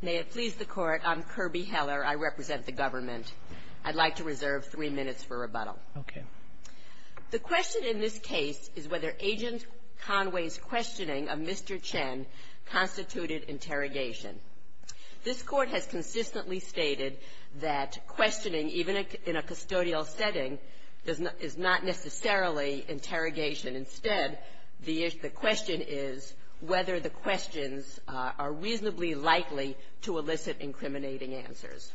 May it please the Court, I'm Kirby Heller. I represent the government. I'd like to reserve three minutes for rebuttal. The question in this case is whether Agent Conway's questioning of Mr. Chen constituted interrogation. This Court has consistently stated that questioning, even in a custodial setting, is not necessarily interrogation. Instead, the question is whether the questions are reasonably likely to elicit incriminating answers.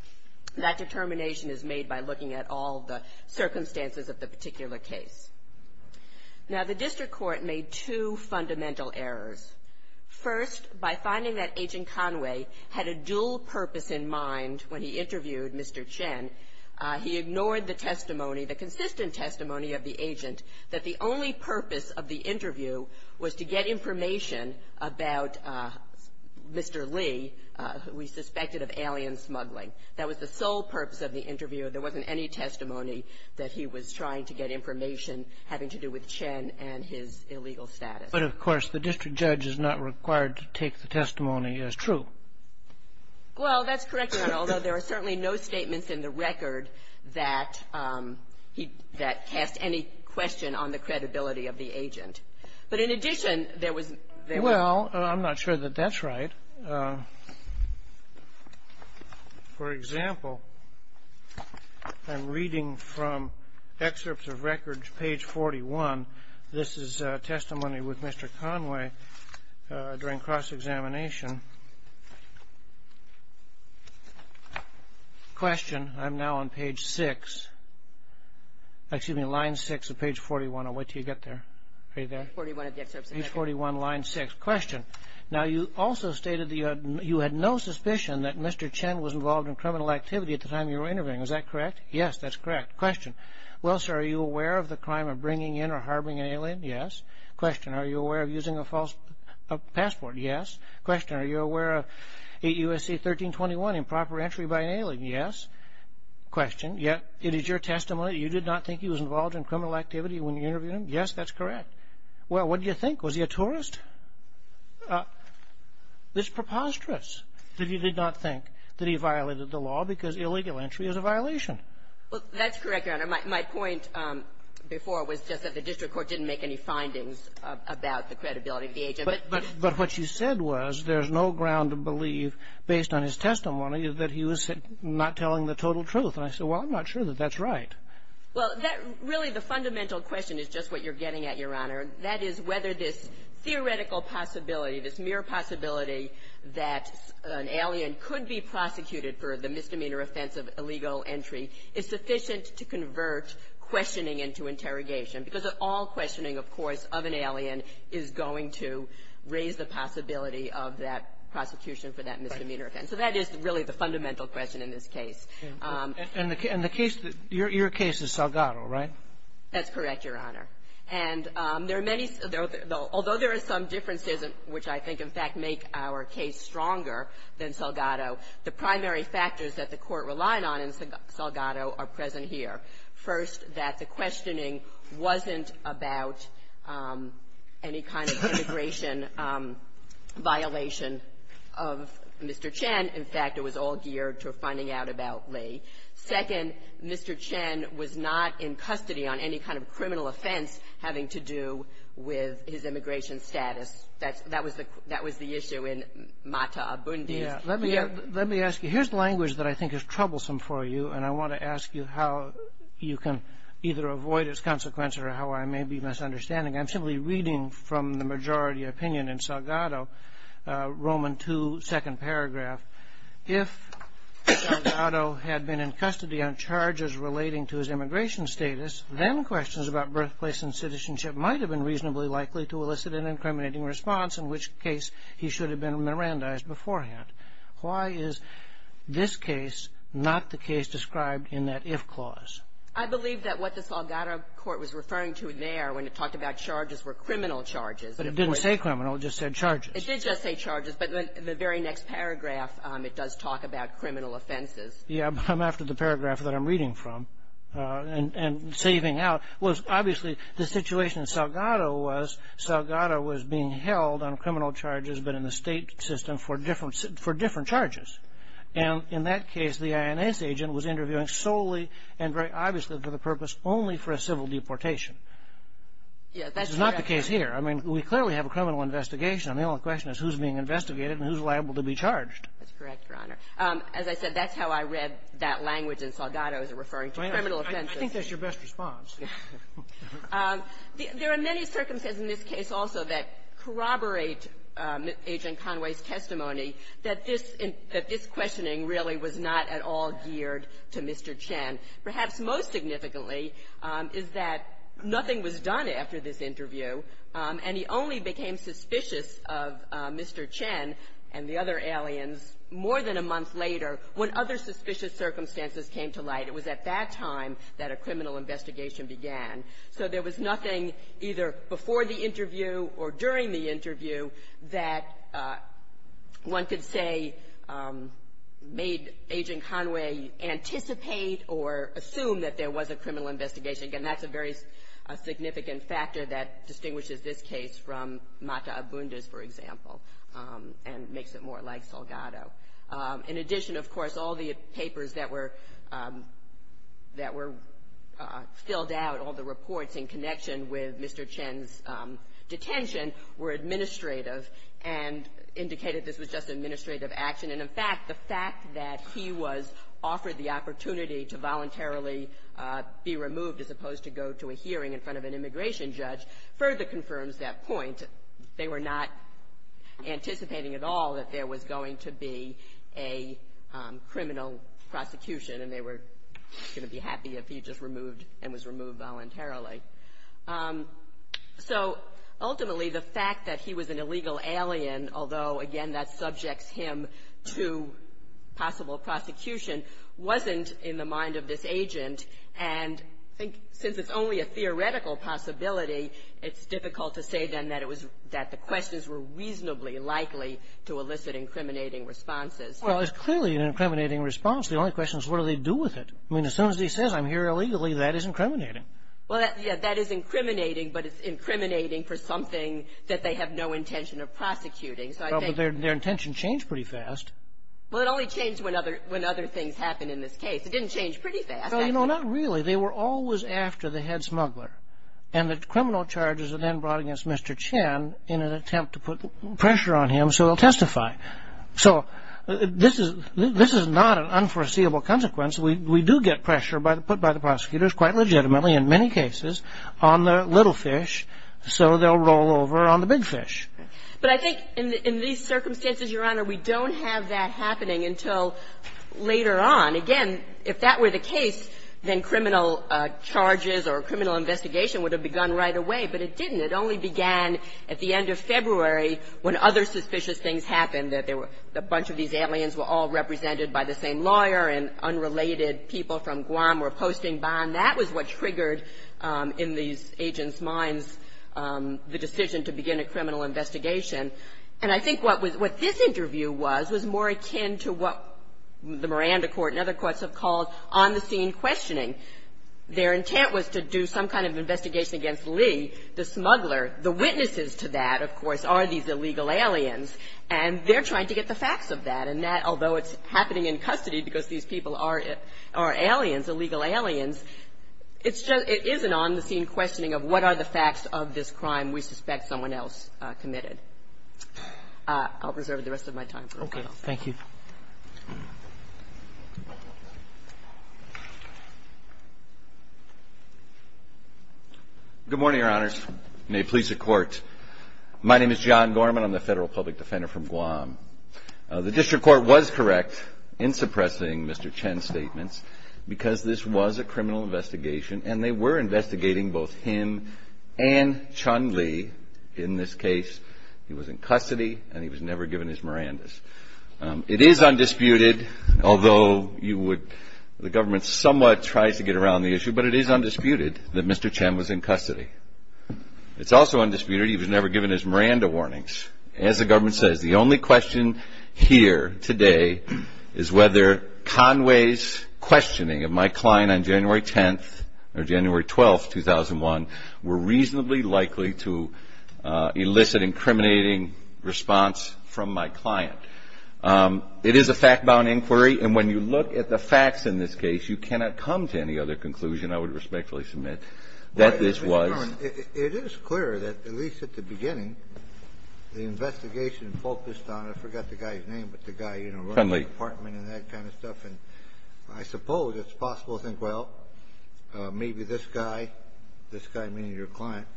That determination is made by looking at all the circumstances of the particular case. Now, the district court made two fundamental errors. First, by finding that Agent Conway had a dual purpose in mind when he interviewed Mr. Chen, he ignored the testimony, the consistent testimony of the agent, that the only purpose of the interview was to get information about Mr. Lee, who he suspected of alien smuggling. That was the sole purpose of the interview. There wasn't any testimony that he was trying to get information having to do with Chen and his illegal status. But, of course, the district judge is not required to take the testimony as true. Well, that's correct, Your Honor, although there are certainly no statements in the record that he cast any question on the credibility of the agent. But in addition, there was no ---- Well, I'm not sure that that's right. For example, I'm reading from excerpts of records, page 41. This is testimony with Mr. Conway during cross-examination. Question. I'm now on page 6, excuse me, line 6 of page 41. I'll wait until you get there. Are you there? Page 41, line 6. Question. Now, you also stated that you had no suspicion that Mr. Chen was involved in criminal activity at the time you were interviewing. Is that correct? Yes, that's correct. Question. Well, sir, are you aware of the crime of bringing in or harboring an alien? Yes. Question. Are you aware of using a false passport? Yes. Question. Are you aware of 8 U.S.C. 1321, improper entry by an alien? Yes. Question. Yet, it is your testimony that you did not think he was involved in criminal activity when you interviewed him? Yes, that's correct. Well, what did you think? Was he a tourist? It's preposterous that you did not think that he violated the law because illegal entry is a violation. Well, that's correct, Your Honor. My point before was just that the district court didn't make any findings about the credibility of the agent. But what you said was there's no ground to believe, based on his testimony, that he was not telling the total truth. And I said, well, I'm not sure that that's right. Well, really, the fundamental question is just what you're getting at, Your Honor, and that is whether this theoretical possibility, this mere possibility that an alien could be prosecuted for the misdemeanor offense of illegal entry is sufficient to convert questioning into interrogation. Because all questioning, of course, of an alien is going to raise the possibility of that prosecution for that misdemeanor offense. So that is really the fundamental question in this case. And the case that – your case is Salgado, right? That's correct, Your Honor. stronger than Salgado, the primary factors that the Court relied on in Salgado are present here. First, that the questioning wasn't about any kind of immigration violation of Mr. Chen. In fact, it was all geared to finding out about Lee. Second, Mr. Chen was not in custody on any kind of criminal offense having to do with his immigration status. That was the issue in Mata Abundis. Let me ask you, here's language that I think is troublesome for you, and I want to ask you how you can either avoid its consequence or how I may be misunderstanding. I'm simply reading from the majority opinion in Salgado, Roman II, second paragraph. If Salgado had been in custody on charges relating to his immigration status, then questions about birthplace and citizenship might have been reasonably likely to elicit an incriminating response, in which case he should have been Mirandized beforehand. Why is this case not the case described in that if clause? I believe that what the Salgado Court was referring to there when it talked about charges were criminal charges. But it didn't say criminal. It just said charges. It did just say charges. But the very next paragraph, it does talk about criminal offenses. Yes, but I'm after the paragraph that I'm reading from and saving out. Obviously, the situation in Salgado was Salgado was being held on criminal charges but in the state system for different charges. In that case, the INS agent was interviewing solely and very obviously for the purpose only for a civil deportation. Yes, that's correct. This is not the case here. I mean, we clearly have a criminal investigation. The only question is who's being investigated and who's liable to be charged. That's correct, Your Honor. As I said, that's how I read that language in Salgado's referring to criminal offenses. I think that's your best response. There are many circumstances in this case also that corroborate Agent Conway's testimony that this questioning really was not at all geared to Mr. Chen. Perhaps most significantly is that nothing was done after this interview, and he only became suspicious of Mr. Chen and the other aliens more than a month later when other suspicious circumstances came to light. It was at that time that a criminal investigation began. So there was nothing either before the interview or during the interview that one could say made Agent Conway anticipate or assume that there was a criminal investigation. Again, that's a very significant factor that distinguishes this case from Mata Abunda's, for example, and makes it more like Salgado. In addition, of course, all the papers that were filled out, all the reports in connection with Mr. Chen's detention were administrative and indicated this was just administrative action. And, in fact, the fact that he was offered the opportunity to voluntarily be removed as opposed to go to a hearing in front of an immigration judge further confirms that point. They were not anticipating at all that there was going to be a criminal prosecution, and they were going to be happy if he just removed and was removed voluntarily. So, ultimately, the fact that he was an illegal alien, although, again, that subjects him to possible prosecution, wasn't in the mind of this agent. And I think since it's only a theoretical possibility, it's difficult to say, then, that it was that the questions were reasonably likely to elicit incriminating responses. Well, it's clearly an incriminating response. The only question is, what do they do with it? I mean, as soon as he says, I'm here illegally, that is incriminating. Well, yeah. That is incriminating, but it's incriminating for something that they have no intention of prosecuting. Well, but their intention changed pretty fast. Well, it only changed when other things happened in this case. It didn't change pretty fast. Well, you know, not really. They were always after the head smuggler, and the criminal charges are then brought against Mr. Chen in an attempt to put pressure on him so he'll testify. So, this is not an unforeseeable consequence. We do get pressure put by the prosecutors, quite legitimately in many cases, on the little fish, so they'll roll over on the big fish. But I think in these circumstances, Your Honor, we don't have that happening until later on. Again, if that were the case, then criminal charges or criminal investigation would have begun right away. But it didn't. It only began at the end of February when other suspicious things happened, that there were a bunch of these aliens were all represented by the same lawyer, and unrelated people from Guam were posting bombs. That was what triggered in these agents' minds the decision to begin a criminal investigation. And I think what this interview was, was more akin to what the Miranda Court and other courts have called on-the-scene questioning. Their intent was to do some kind of investigation against Lee, the smuggler. The witnesses to that, of course, are these illegal aliens, and they're trying to get the facts of that. And that, although it's happening in custody because these people are aliens, illegal aliens, it's just, it is an on-the-scene questioning of what are the facts of this case, and what are the facts of the case, and what are the facts of the case that are being submitted. I'll reserve the rest of my time for a while. Okay. Thank you. Good morning, Your Honors. May it please the Court. My name is John Gorman. I'm the Federal public defender from Guam. The District Court was correct in suppressing Mr. Chen's statements because this was a He was in custody, and he was never given his Mirandas. It is undisputed, although you would, the government somewhat tries to get around the issue, but it is undisputed that Mr. Chen was in custody. It's also undisputed he was never given his Miranda warnings. As the government says, the only question here today is whether Conway's questioning of my client on January 10th, or January 12th, 2001, were reasonably likely to elicit incriminating response from my client. It is a fact-bound inquiry, and when you look at the facts in this case, you cannot come to any other conclusion, I would respectfully submit, that this was Well, Mr. Gorman, it is clear that, at least at the beginning, the investigation focused on, I forgot the guy's name, but the guy, you know, running the apartment and that kind of stuff, and I suppose it's possible to think, well, maybe this guy, this guy, meaning your client,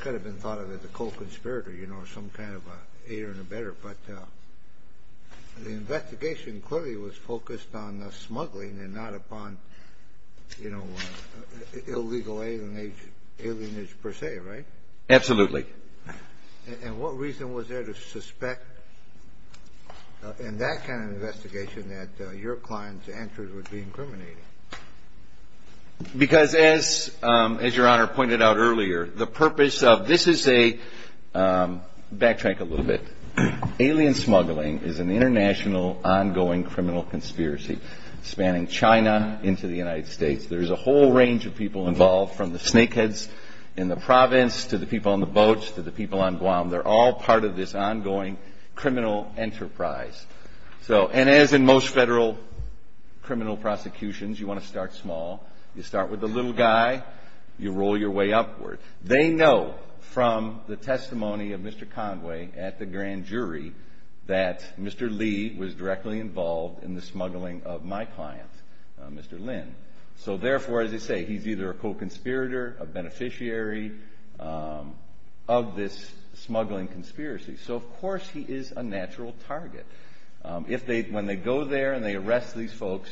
could have been thought of as a co-conspirator, you know, some kind of an aider and abetter, but the investigation clearly was focused on smuggling and not upon, you know, illegal alienation, alienage per se, right? Absolutely. And what reason was there to suspect, in that kind of investigation, that your client's answers would be incriminating? Because as, as Your Honor pointed out earlier, the purpose of, this is a, backtrack a little bit, alien smuggling is an international, ongoing criminal conspiracy, spanning China into the United States. There's a whole range of people involved, from the snakeheads in the province to the people on the boats to the people on Guam. They're all part of this ongoing criminal enterprise. So, and as in most federal criminal prosecutions, you want to start small. You start with the little guy, you roll your way upward. They know from the testimony of Mr. Conway at the grand jury that Mr. Lee was directly involved in the smuggling of my client, Mr. Lin. So, therefore, as I say, he's either a co-conspirator, a beneficiary of this smuggling conspiracy. So, of course, he is a natural target. If they, when they go there and they arrest these folks,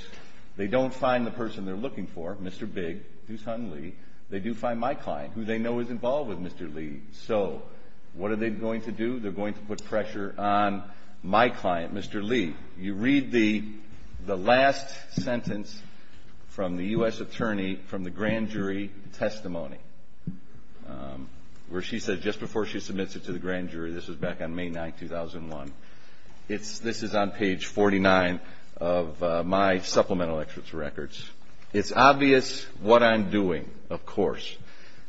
they don't find the person they're looking for, Mr. Big, Doosan Lee. They do find my client, who they know is involved with Mr. Lee. So, what are they going to do? They're going to put pressure on my client, Mr. Lee. You read the last sentence from the U.S. attorney from the grand jury testimony, where she said, just before she submits it to the grand jury, this was back on May 9, 2001. This is on page 49 of my supplemental experts records. It's obvious what I'm doing, of course.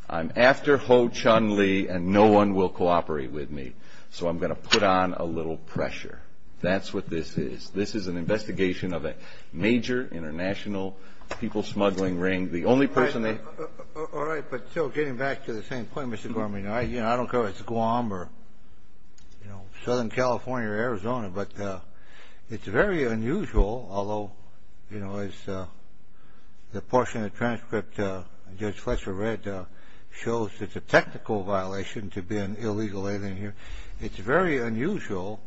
I'm after Ho Chun Lee and no one will cooperate with me. So, I'm going to put on a little pressure. That's what this is. This is an investigation of a major international people smuggling ring. The only person they. All right. But, still, getting back to the same point, Mr. Gorman, I don't care if it's Guam or, you know, Southern California or Arizona, but it's very unusual, although, you know, as the portion of the transcript Judge Fletcher read shows it's a technical violation to be an illegal alien here. It's very unusual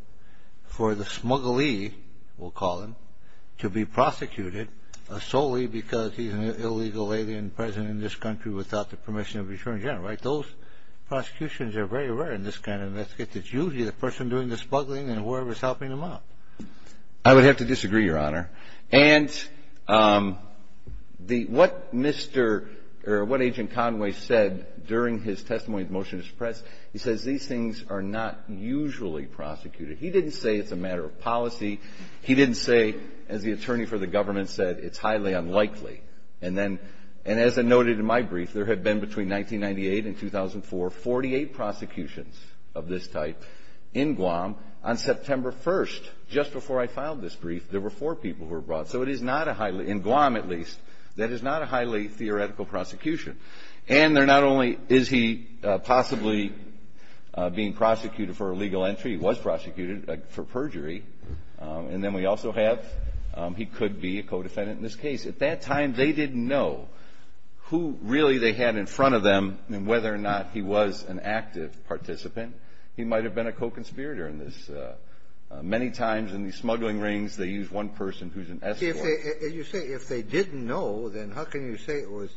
for the smuggly, we'll call him, to be prosecuted solely because he's an illegal alien present in this country without the permission of the attorney general. Right? Those prosecutions are very rare in this kind of investigation. It's usually the person doing the smuggling and whoever's helping them out. I would have to disagree, Your Honor. And what Mr. or what Agent Conway said during his testimony in the motion to suppress, he says these things are not usually prosecuted. He didn't say it's a matter of policy. He didn't say, as the attorney for the government said, it's highly unlikely. And then, and as I noted in my brief, there have been between 1998 and 2004, 48 prosecutions of this type in Guam. On September 1st, just before I filed this brief, there were four people who were brought. So it is not a highly, in Guam at least, that is not a highly theoretical prosecution. And they're not only is he possibly being prosecuted for illegal entry. He was prosecuted for perjury. And then we also have he could be a co-defendant in this case. At that time, they didn't know who really they had in front of them and whether or not he was an active participant. He might have been a co-conspirator in this. Many times in these smuggling rings, they use one person who's an escort. You say if they didn't know, then how can you say it was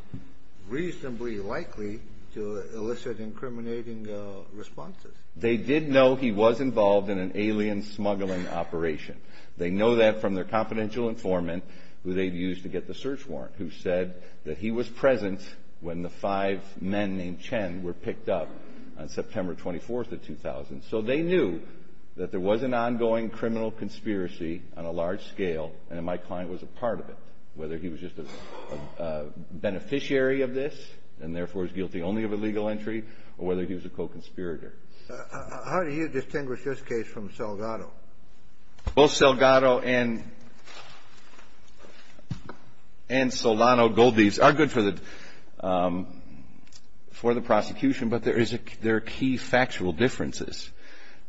reasonably likely to elicit incriminating responses? They did know he was involved in an alien smuggling operation. They know that from their confidential informant who they used to get the search warrant who said that he was present when the five men named Chen were picked up on September 24th of 2000. So they knew that there was an ongoing criminal conspiracy on a large scale and that my client was a part of it, whether he was just a beneficiary of this and therefore is guilty only of illegal entry or whether he was a co-conspirator. How do you distinguish this case from Salgado? Both Salgado and Solano Goldbees are good for the prosecution, but there are key factual differences.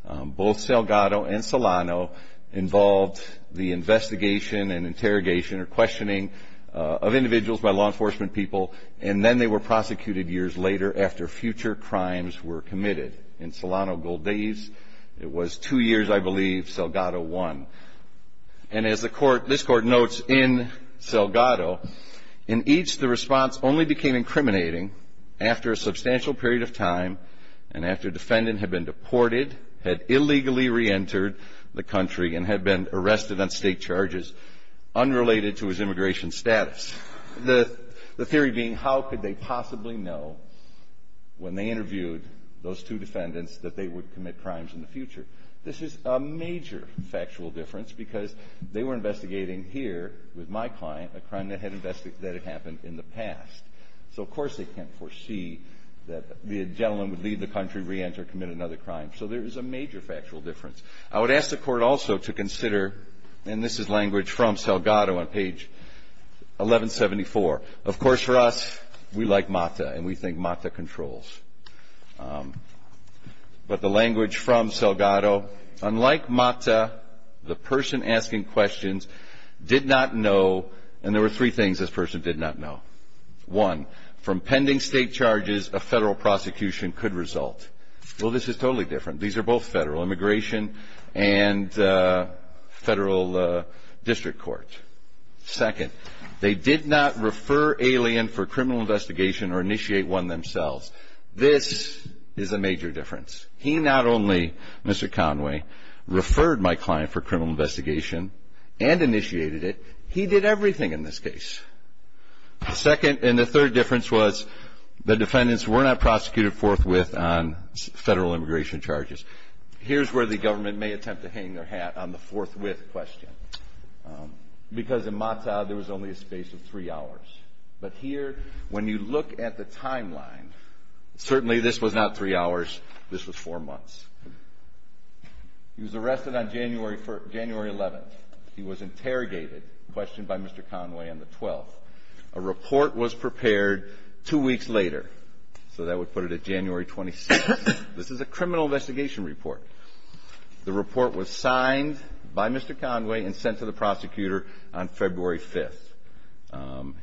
Both Salgado and Solano involved the investigation and interrogation or questioning of individuals by law enforcement people and then they were prosecuted years later after future crimes were committed. In Solano Goldbees, it was two years, I believe, Salgado won. And as this court notes in Salgado, in each, the response only became incriminating after a substantial period of time and after a defendant had been deported, had illegally reentered the country and had been arrested on state charges unrelated to his immigration status. The theory being how could they possibly know when they interviewed those two defendants that they would commit crimes in the future. This is a major factual difference because they were investigating here with my client a crime that had happened in the past. So, of course, they can't foresee that the gentleman would leave the country, reenter, commit another crime. So there is a major factual difference. I would ask the Court also to consider, and this is language from Salgado on page 1174. Of course, for us, we like MATA and we think MATA controls. But the language from Salgado, unlike MATA, the person asking questions did not know and there were three things this person did not know. One, from pending state charges, a federal prosecution could result. Well, this is totally different. These are both federal, immigration and federal district court. Second, they did not refer alien for criminal investigation or initiate one themselves. This is a major difference. He not only, Mr. Conway, referred my client for criminal investigation and initiated it, he did everything in this case. Second, and the third difference was the defendants were not prosecuted forthwith on federal immigration charges. Here's where the government may attempt to hang their hat on the forthwith question because in MATA there was only a space of three hours. But here, when you look at the timeline, certainly this was not three hours, this was four months. He was arrested on January 11th. He was interrogated, questioned by Mr. Conway on the 12th. A report was prepared two weeks later, so that would put it at January 26th. This is a criminal investigation report. The report was signed by Mr. Conway and sent to the prosecutor on February 5th.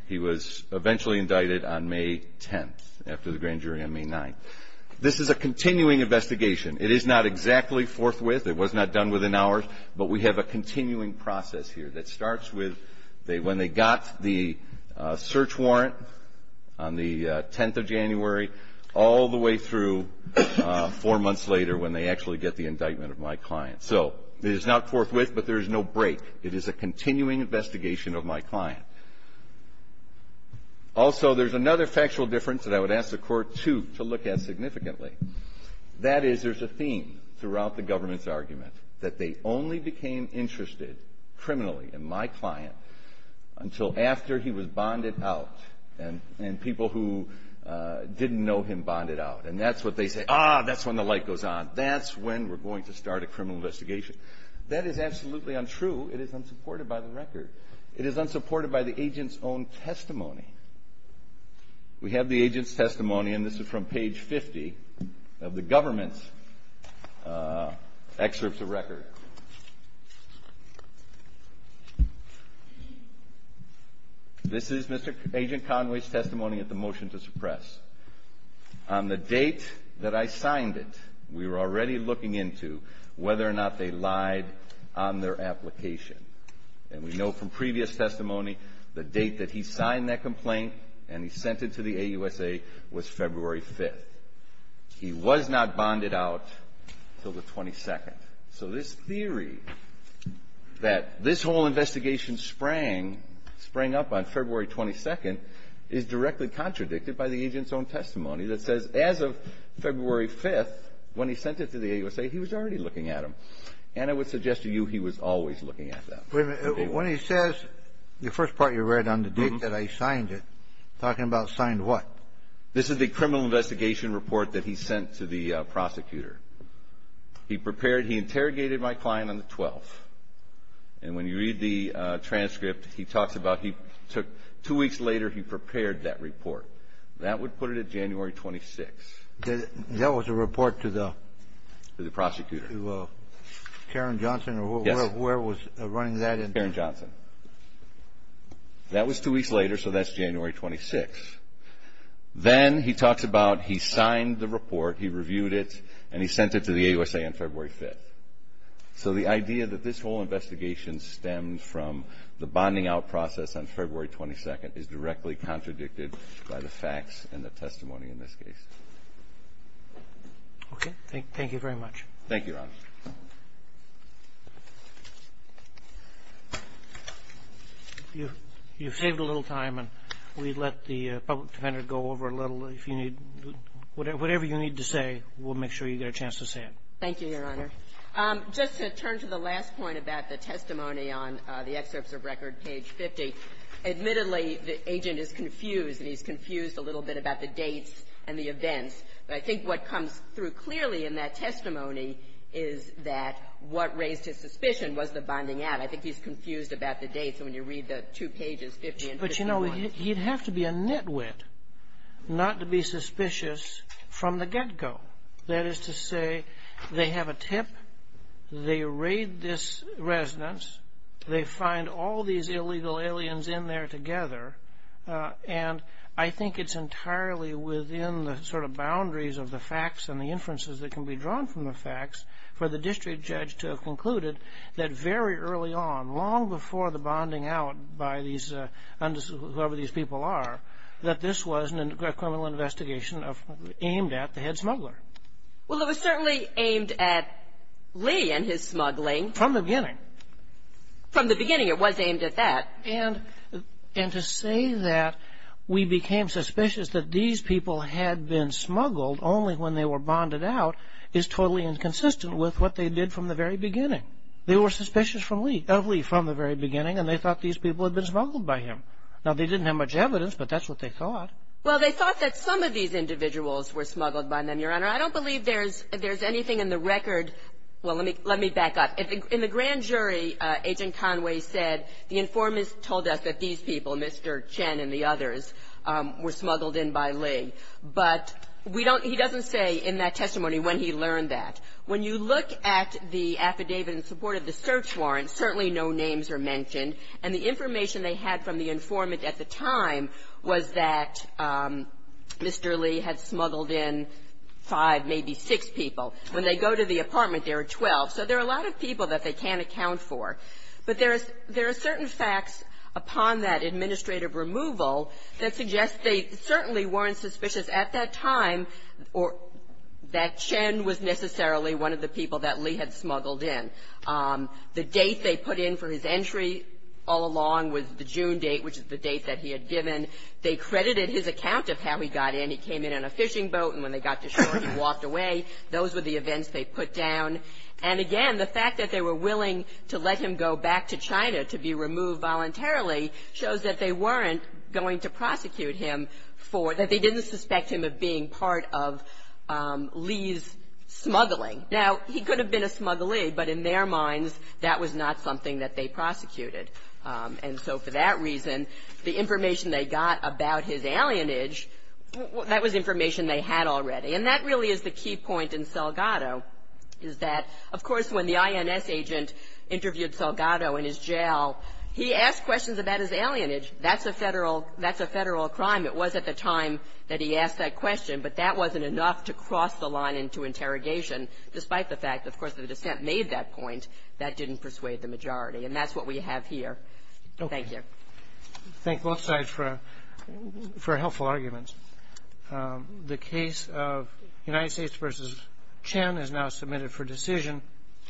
He was eventually indicted on May 10th after the grand jury on May 9th. This is a continuing investigation. It is not exactly forthwith. It was not done within hours, but we have a continuing process here that starts with when they got the search warrant on the 10th of January all the way through four months later when they actually get the indictment of my client. So it is not forthwith, but there is no break. It is a continuing investigation of my client. Also, there's another factual difference that I would ask the Court to look at significantly. That is, there's a theme throughout the government's argument that they only became interested criminally in my client until after he was bonded out and people who didn't know him bonded out. And that's what they say, ah, that's when the light goes on. That's when we're going to start a criminal investigation. That is absolutely untrue. It is unsupported by the record. It is unsupported by the agent's own testimony. We have the agent's testimony, and this is from page 50 of the government's excerpts of record. This is Agent Conway's testimony at the motion to suppress. On the date that I signed it, we were already looking into whether or not they lied on their application. And we know from previous testimony the date that he signed that complaint and he sent it to the AUSA was February 5th. He was not bonded out until the 22nd. So this theory that this whole investigation sprang up on February 22nd is directly contradicted by the agent's own testimony that says as of February 5th, when he sent it to the AUSA, he was already looking at them. And I would suggest to you he was always looking at them. Wait a minute. When he says the first part you read on the date that I signed it, talking about signed what? This is the criminal investigation report that he sent to the prosecutor. He prepared, he interrogated my client on the 12th. And when you read the transcript, he talks about he took two weeks later, he prepared that report. That would put it at January 26th. That was a report to the? To the prosecutor. To Karen Johnson? Yes. Where was running that? Karen Johnson. That was two weeks later, so that's January 26th. Then he talks about he signed the report, he reviewed it, and he sent it to the AUSA on February 5th. So the idea that this whole investigation stemmed from the bonding out process on February 22nd is directly contradicted by the facts and the testimony in this case. Okay. Thank you very much. Thank you, Your Honor. You've saved a little time, and we let the public defender go over a little. If you need, whatever you need to say, we'll make sure you get a chance to say it. Thank you, Your Honor. Just to turn to the last point about the testimony on the excerpts of record, page 50. Admittedly, the agent is confused, and he's confused a little bit about the dates and the events. But I think what comes through clearly in that testimony is that what raised his suspicion was the bonding out. I think he's confused about the dates when you read the two pages, 50 and 51. But, you know, he'd have to be a nitwit not to be suspicious from the get-go. That is to say, they have a tip, they raid this residence, they find all these illegal aliens in there together, and I think it's entirely within the sort of boundaries of the facts and the inferences that can be drawn from the facts for the district judge to have concluded that very early on, long before the bonding out by these undisclosed, whoever these people are, that this was a criminal investigation aimed at the head smuggler. Well, it was certainly aimed at Lee and his smuggling. From the beginning. From the beginning, it was aimed at that. And to say that we became suspicious that these people had been smuggled only when they were bonded out is totally inconsistent with what they did from the very beginning. They were suspicious of Lee from the very beginning, and they thought these people had been smuggled by him. Now, they didn't have much evidence, but that's what they thought. Well, they thought that some of these individuals were smuggled by them, Your Honor. I don't believe there's anything in the record. Well, let me back up. In the grand jury, Agent Conway said the informant told us that these people, Mr. Chen and the others, were smuggled in by Lee. But we don't he doesn't say in that testimony when he learned that. When you look at the affidavit in support of the search warrant, certainly no names are mentioned. And the information they had from the informant at the time was that Mr. Lee had smuggled in five, maybe six people. When they go to the apartment, there are 12. So there are a lot of people that they can't account for. But there are certain facts upon that administrative removal that suggest they certainly weren't suspicious at that time or that Chen was necessarily one of the people that Lee had smuggled in. The date they put in for his entry all along was the June date, which is the date that he had given. They credited his account of how he got in. He came in on a fishing boat, and when they got to shore, he walked away. Those were the events they put down. And again, the fact that they were willing to let him go back to China to be removed voluntarily shows that they weren't going to prosecute him for that. They didn't suspect him of being part of Lee's smuggling. Now, he could have been a smuggler, but in their minds, that was not something that they prosecuted. And so for that reason, the information they got about his alienage, that was information they had already. And that really is the key point in Salgado, is that, of course, when the INS agent interviewed Salgado in his jail, he asked questions about his alienage. That's a Federal – that's a Federal crime. It was at the time that he asked that question. But that wasn't enough to cross the line into interrogation, despite the fact, of course, that the dissent made that point that didn't persuade the majority. And that's what we have here. Thank you. Thank both sides for helpful arguments. The case of United States v. Chen is now submitted for decision.